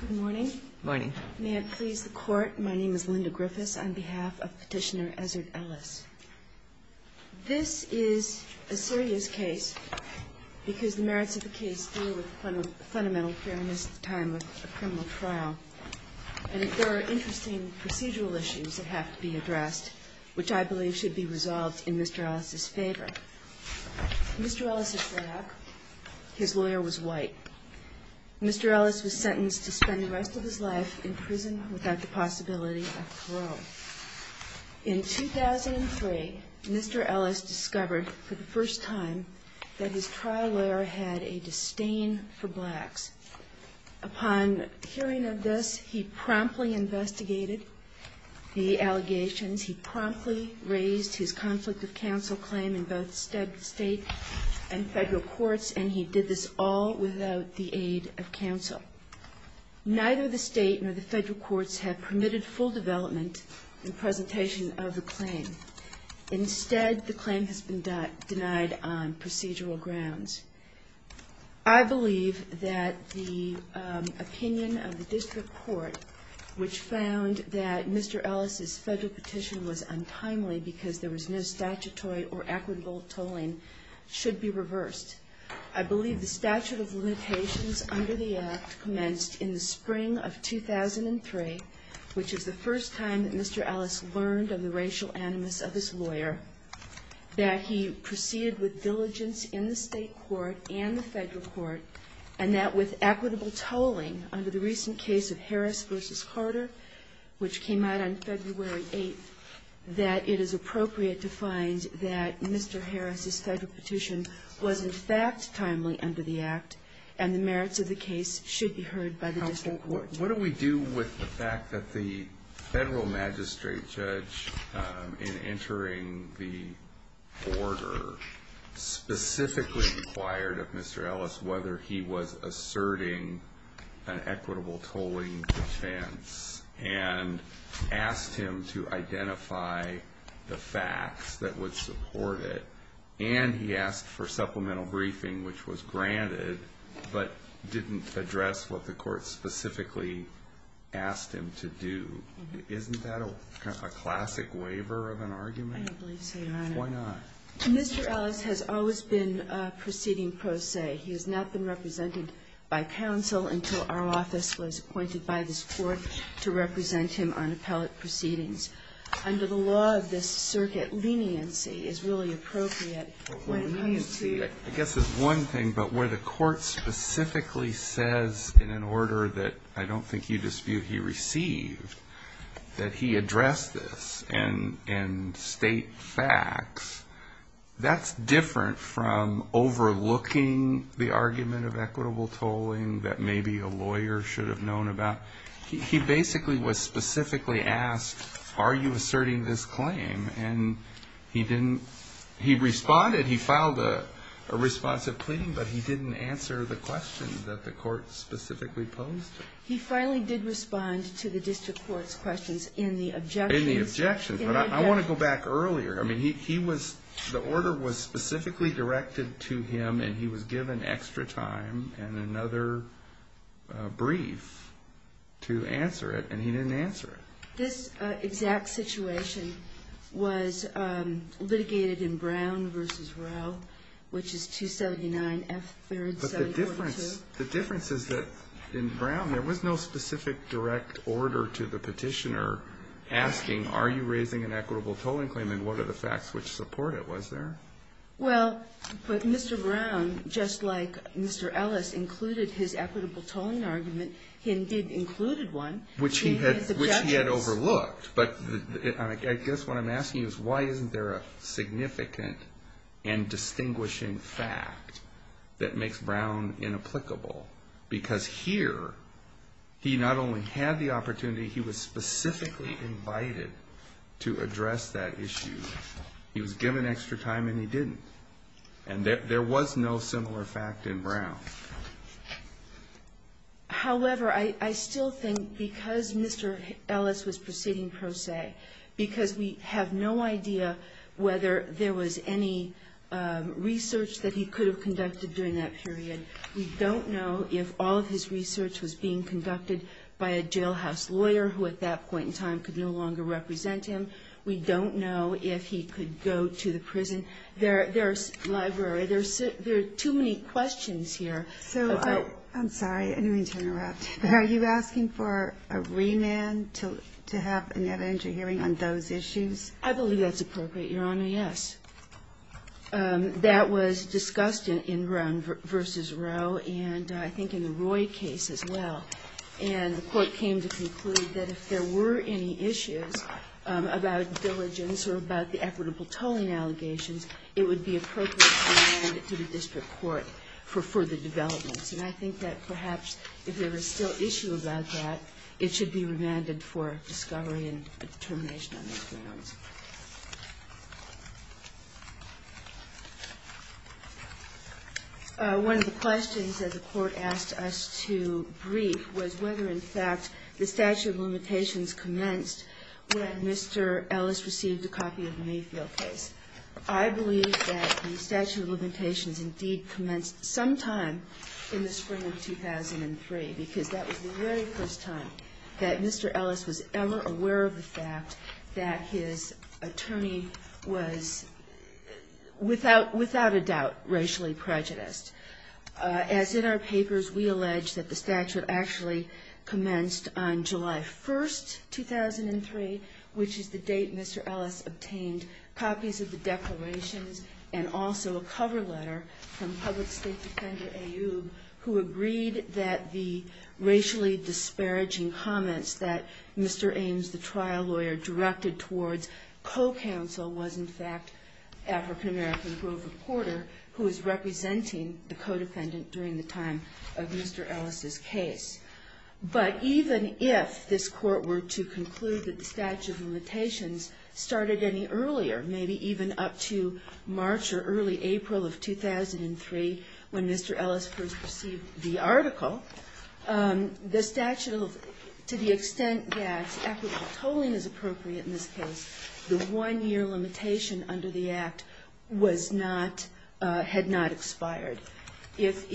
Good morning. Good morning. May it please the Court, my name is Linda Griffiths on behalf of Petitioner Ezzard Ellis. This is a serious case because the merits of the case deal with fundamental fairness at the time of a criminal trial, and there are interesting procedural issues that have to be addressed, which I believe should be resolved in Mr. Ellis's favor. Mr. Ellis is black. His lawyer was white. Mr. Ellis was sentenced to spend the rest of his life in prison without the possibility of parole. In 2003, Mr. Ellis discovered for the first time that his trial lawyer had a disdain for blacks. Upon hearing of this, he promptly investigated the allegations. He promptly raised his conflict of counsel claim in both state and federal courts, and he did this all without the aid of counsel. Neither the state nor the federal courts have permitted full development and presentation of the claim. Instead, the claim has been denied on procedural grounds. I believe that the opinion of the district court, which found that Mr. Ellis's federal petition was untimely because there was no statutory or equitable I believe the statute of limitations under the Act commenced in the spring of 2003, which is the first time that Mr. Ellis learned of the racial animus of his lawyer, that he proceeded with diligence in the state court and the federal court, and that with equitable tolling under the recent case of Harris v. Carter, which came out on February 8th, that it is appropriate to find that Mr. Harris's federal petition was, in fact, timely under the Act, and the merits of the case should be heard by the district court. What do we do with the fact that the federal magistrate judge, in entering the order, specifically required of Mr. Ellis whether he was asserting an equitable tolling defense and asked him to identify the facts that would support it, and he asked for supplemental briefing, which was granted, but didn't address what the court specifically asked him to do? Isn't that a classic waiver of an argument? I don't believe so, Your Honor. Why not? Mr. Ellis has always been proceeding pro se. He has not been represented by counsel until our office was appointed by this court to represent him on appellate proceedings. Under the law of this circuit, leniency is really appropriate when it comes to I guess there's one thing, but where the court specifically says in an order that I don't think you dispute he received, that he addressed this and state facts, that's different from overlooking the argument of equitable tolling that maybe a lawyer should have known about. He basically was specifically asked, are you asserting this claim? And he didn't, he responded. He filed a responsive pleading, but he didn't answer the question that the court specifically posed. He finally did respond to the district court's questions in the objections. In the objections. But I want to go back earlier. I mean, he was, the order was specifically directed to him and he was given extra time and another brief to answer it and he didn't answer it. This exact situation was litigated in Brown v. Rowe, which is 279 F. 3rd, 742. But the difference is that in Brown there was no specific direct order to the petitioner asking are you raising an equitable tolling claim and what are the facts which support it, was there? Well, but Mr. Brown, just like Mr. Ellis included his equitable tolling argument, he did include one. Which he had overlooked. But I guess what I'm asking is why isn't there a significant and distinguishing fact that makes Brown inapplicable? Because here he not only had the opportunity, he was specifically invited to address that issue. He was given extra time and he didn't. And there was no similar fact in Brown. However, I still think because Mr. Ellis was proceeding pro se, because we have no idea whether there was any research that he could have conducted during that period, we don't know if all of his research was being conducted by a jailhouse lawyer who at that point in time could no longer represent him. We don't know if he could go to the prison. There are too many questions here. I'm sorry, I didn't mean to interrupt. Are you asking for a remand to have an evidentiary hearing on those issues? I believe that's appropriate, Your Honor, yes. That was discussed in Brown v. Roe and I think in the Roy case as well. And the Court came to conclude that if there were any issues about diligence or about the equitable tolling allegations, it would be appropriate to remand it to the district court for further developments. And I think that perhaps if there is still issue about that, it should be remanded for discovery and determination on those grounds. One of the questions that the Court asked us to brief was whether in fact the statute of limitations commenced when Mr. Ellis received a copy of the Mayfield case. I believe that the statute of limitations indeed commenced sometime in the spring of 2003, because that was the very first time that Mr. Ellis was ever aware of the fact that his attorney was without a doubt racially prejudiced. As in our papers, we allege that the statute actually commenced on July 1, 2003, which is the date Mr. Ellis obtained copies of the declarations and also a cover letter from public state defender A. Ube who agreed that the racially disparaging comments that Mr. Ames, the trial lawyer, directed towards co-counsel was in fact African-American Grover Porter who was representing the co-defendant during the time of Mr. Ellis' case. But even if this Court were to conclude that the statute of limitations started any earlier, maybe even up to March or early April of 2003 when Mr. Ellis first received the article, the statute, to the extent that equitable tolling is appropriate in this case, the one-year limitation under the Act was not, had not expired. If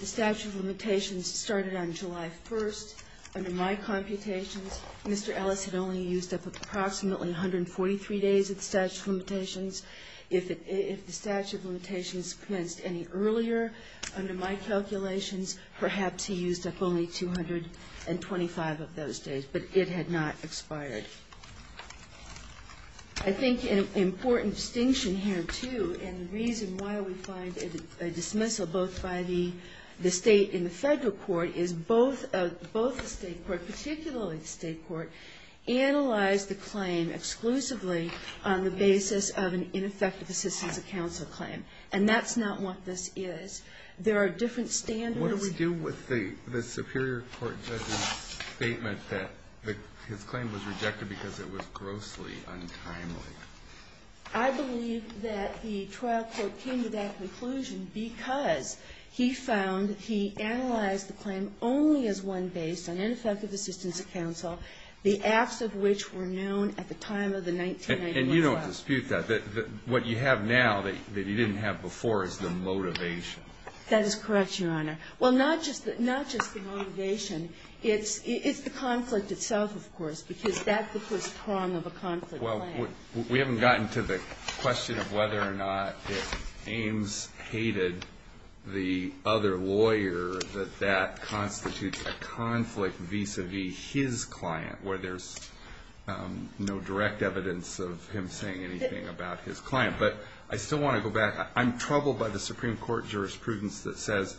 the statute of limitations started on July 1st, under my computations, Mr. Ellis had only used up approximately 143 days of the statute of limitations. If the statute of limitations commenced any earlier under my calculations, perhaps he used up only 225 of those days, but it had not expired. I think an important distinction here, too, and the reason why we find a dismissal both by the State and the Federal court is both the State court, particularly the State court, analyzed the claim exclusively on the basis of an ineffective assistance of counsel claim. And that's not what this is. There are different standards. Kennedy. What do we do with the superior court judge's statement that his claim was rejected because it was grossly untimely? I believe that the trial court came to that conclusion because he found he analyzed the claim only as one based on ineffective assistance of counsel, the acts of which were known at the time of the 1991 trial. And you don't dispute that. What you have now that you didn't have before is the motivation. That is correct, Your Honor. Well, not just the motivation. It's the conflict itself, of course, because that's the first prong of a conflict claim. Well, we haven't gotten to the question of whether or not if Ames hated the other lawyer, that that constitutes a conflict vis-à-vis his client, where there's no direct evidence of him saying anything about his client. But I still want to go back. I'm troubled by the Supreme Court jurisprudence that says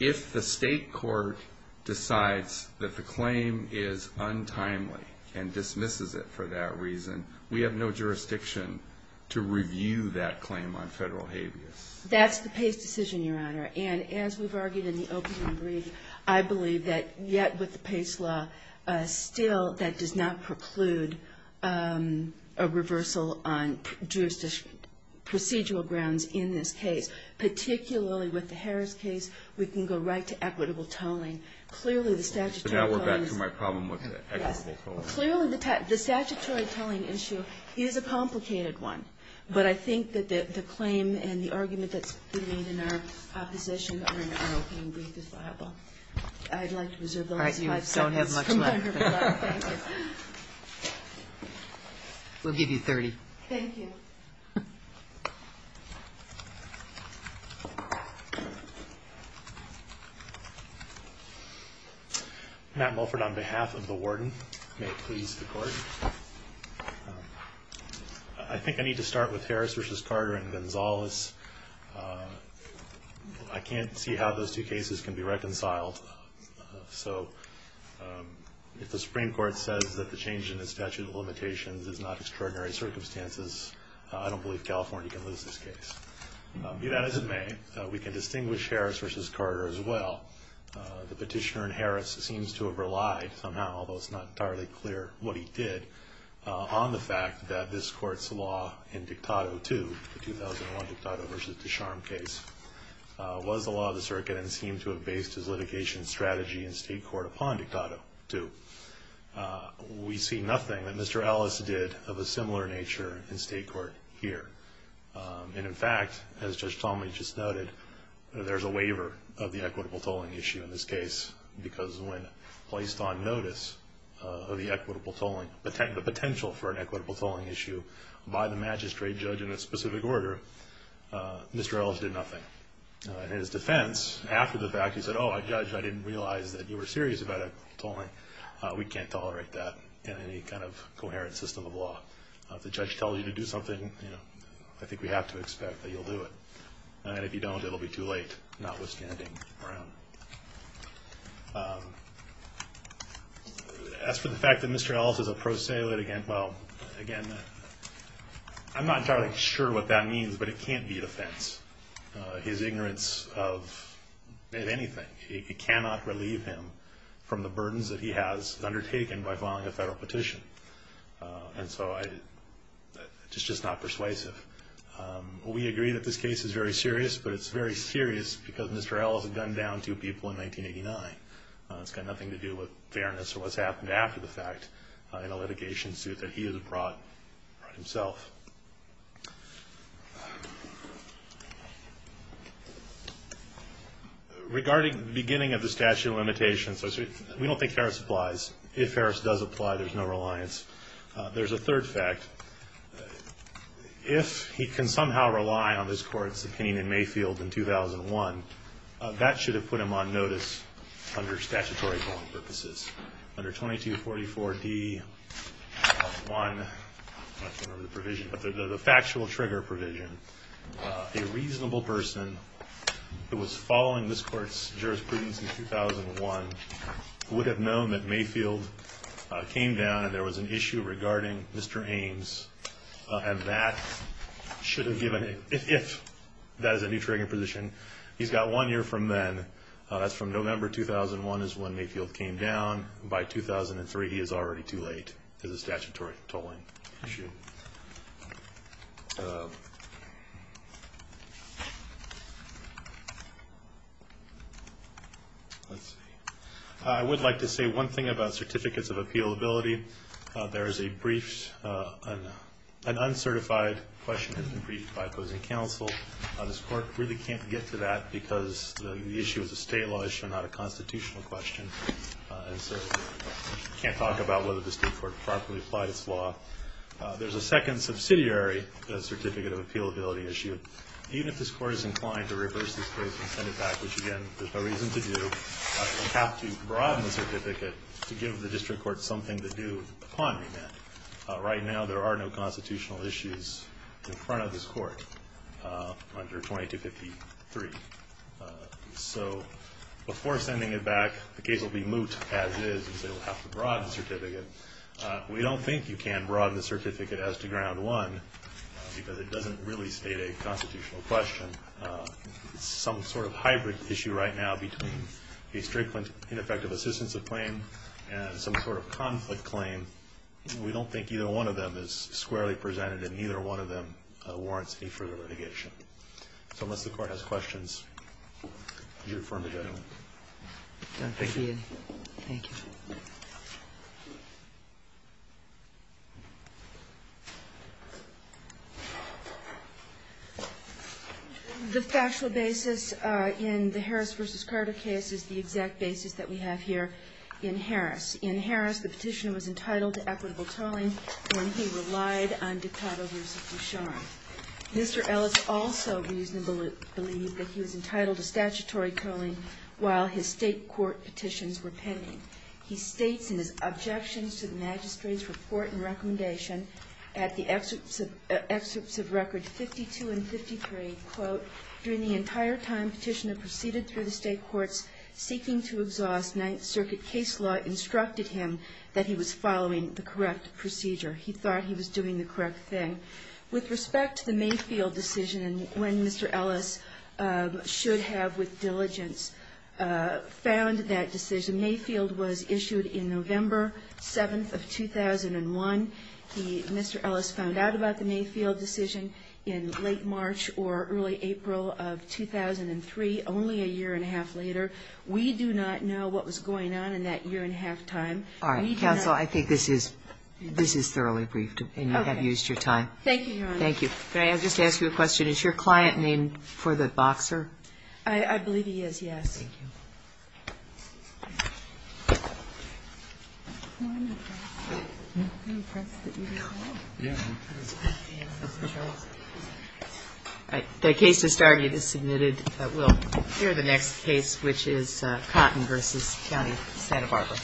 if the State court decides that the claim is untimely and dismisses it for that reason, we have no jurisdiction to review that claim on federal habeas. That's the Pace decision, Your Honor. And as we've argued in the opening brief, I believe that yet with the Pace law, still that does not preclude a reversal on jurisdictional procedural grounds in this case, particularly with the Harris case. We can go right to equitable tolling. Clearly, the statutory tolling is — So now we're back to my problem with the equitable tolling. Yes. Clearly, the statutory tolling issue is a complicated one. But I think that the claim and the argument that's been made in our opposition are in our opening brief defiable. I'd like to reserve the last five seconds. All right. You don't have much left. Thank you. We'll give you 30. Thank you. Matt Mulford on behalf of the Warden. May it please the Court. I think I need to start with Harris v. Carter and Gonzalez. I can't see how those two cases can be reconciled. So if the Supreme Court says that the change in the statute of limitations is not extraordinary circumstances, I don't believe California can lose this case. Be that as it may, we can distinguish Harris v. Carter as well. The petitioner in Harris seems to have relied somehow, although it's not entirely clear what he did, on the fact that this Court's law in Dictato II, the 2001 Dictato v. Descharnes case, was the law of the circuit and seemed to have based his litigation strategy in state court upon Dictato II. We see nothing that Mr. Ellis did of a similar nature in state court here. And, in fact, as Judge Talmadge just noted, there's a waiver of the equitable tolling issue in this case because when placed on notice of the equitable tolling, the potential for an equitable tolling issue by the magistrate judge in a specific order, Mr. Ellis did nothing. In his defense, after the fact, he said, oh, Judge, I didn't realize that you were serious about equitable tolling. We can't tolerate that in any kind of coherent system of law. If the judge tells you to do something, you know, I think we have to expect that you'll do it. And if you don't, it'll be too late, notwithstanding Brown. As for the fact that Mr. Ellis is a prosaic, well, again, I'm not entirely sure what that means, but it can't be an offense. His ignorance of anything, it cannot relieve him from the burdens that he has undertaken by filing a federal petition. And so it's just not persuasive. We agree that this case is very serious, but it's very serious because Mr. Ellis had gunned down two people in 1989. It's got nothing to do with fairness or what's happened after the fact in a litigation suit that he has brought himself. Regarding the beginning of the statute of limitations, we don't think Ferris applies. If Ferris does apply, there's no reliance. There's a third fact. If he can somehow rely on this court's opinion in Mayfield in 2001, that should have put him on notice under statutory tolling purposes. Under 2244D-1, I don't remember the provision, but the factual trigger provision, a reasonable person who was following this court's jurisprudence in 2001 would have known that Mayfield came down and there was an issue regarding Mr. Ames, and that should have given him, if that is a new trigger position. He's got one year from then. That's from November 2001 is when Mayfield came down. By 2003, he is already too late as a statutory tolling issue. Let's see. I would like to say one thing about certificates of appealability. There is a brief, an uncertified question has been briefed by opposing counsel. This court really can't get to that because the issue is a state law issue, not a constitutional question, and so we can't talk about whether the state court properly applied its law. There's a second subsidiary certificate of appealability issue. Even if this court is inclined to reverse this case and send it back, which again, there's no reason to do, we have to broaden the certificate to give the district court something to do upon remand. Right now, there are no constitutional issues in front of this court under 2253. So before sending it back, the case will be moot as is, and so we'll have to broaden the certificate. We don't think you can broaden the certificate as to ground one because it doesn't really state a constitutional question. It's some sort of hybrid issue right now between a strict, ineffective assistance of claim and some sort of conflict claim. We don't think either one of them is squarely presented, and neither one of them warrants any further litigation. So unless the court has questions, I'll defer to the gentleman. Thank you. Thank you. The factual basis in the Harris v. Carter case is the exact basis that we have here in Harris. In Harris, the Petitioner was entitled to equitable tolling when he relied on Ducato v. Ducharme. Mr. Ellis also reasonably believed that he was entitled to statutory tolling while his state court petitions were pending. He states in his objections to the magistrate's report and recommendation at the excerpts of records 52 and 53, quote, during the entire time Petitioner proceeded through the state courts seeking to exhaust Ninth Circuit case law, instructed him that he was following the correct procedure. He thought he was doing the correct thing. With respect to the Mayfield decision and when Mr. Ellis should have with diligence found that decision, Mayfield was issued in November 7th of 2001. He, Mr. Ellis, found out about the Mayfield decision in late March or early April of 2003, only a year and a half later. We do not know what was going on in that year and a half time. All right. Counsel, I think this is thoroughly briefed and you have used your time. Thank you, Your Honor. Thank you. May I just ask you a question? Is your client named for the boxer? I believe he is, yes. Thank you. The case has started. It is submitted. We'll hear the next case, which is Cotton v. County, Santa Barbara.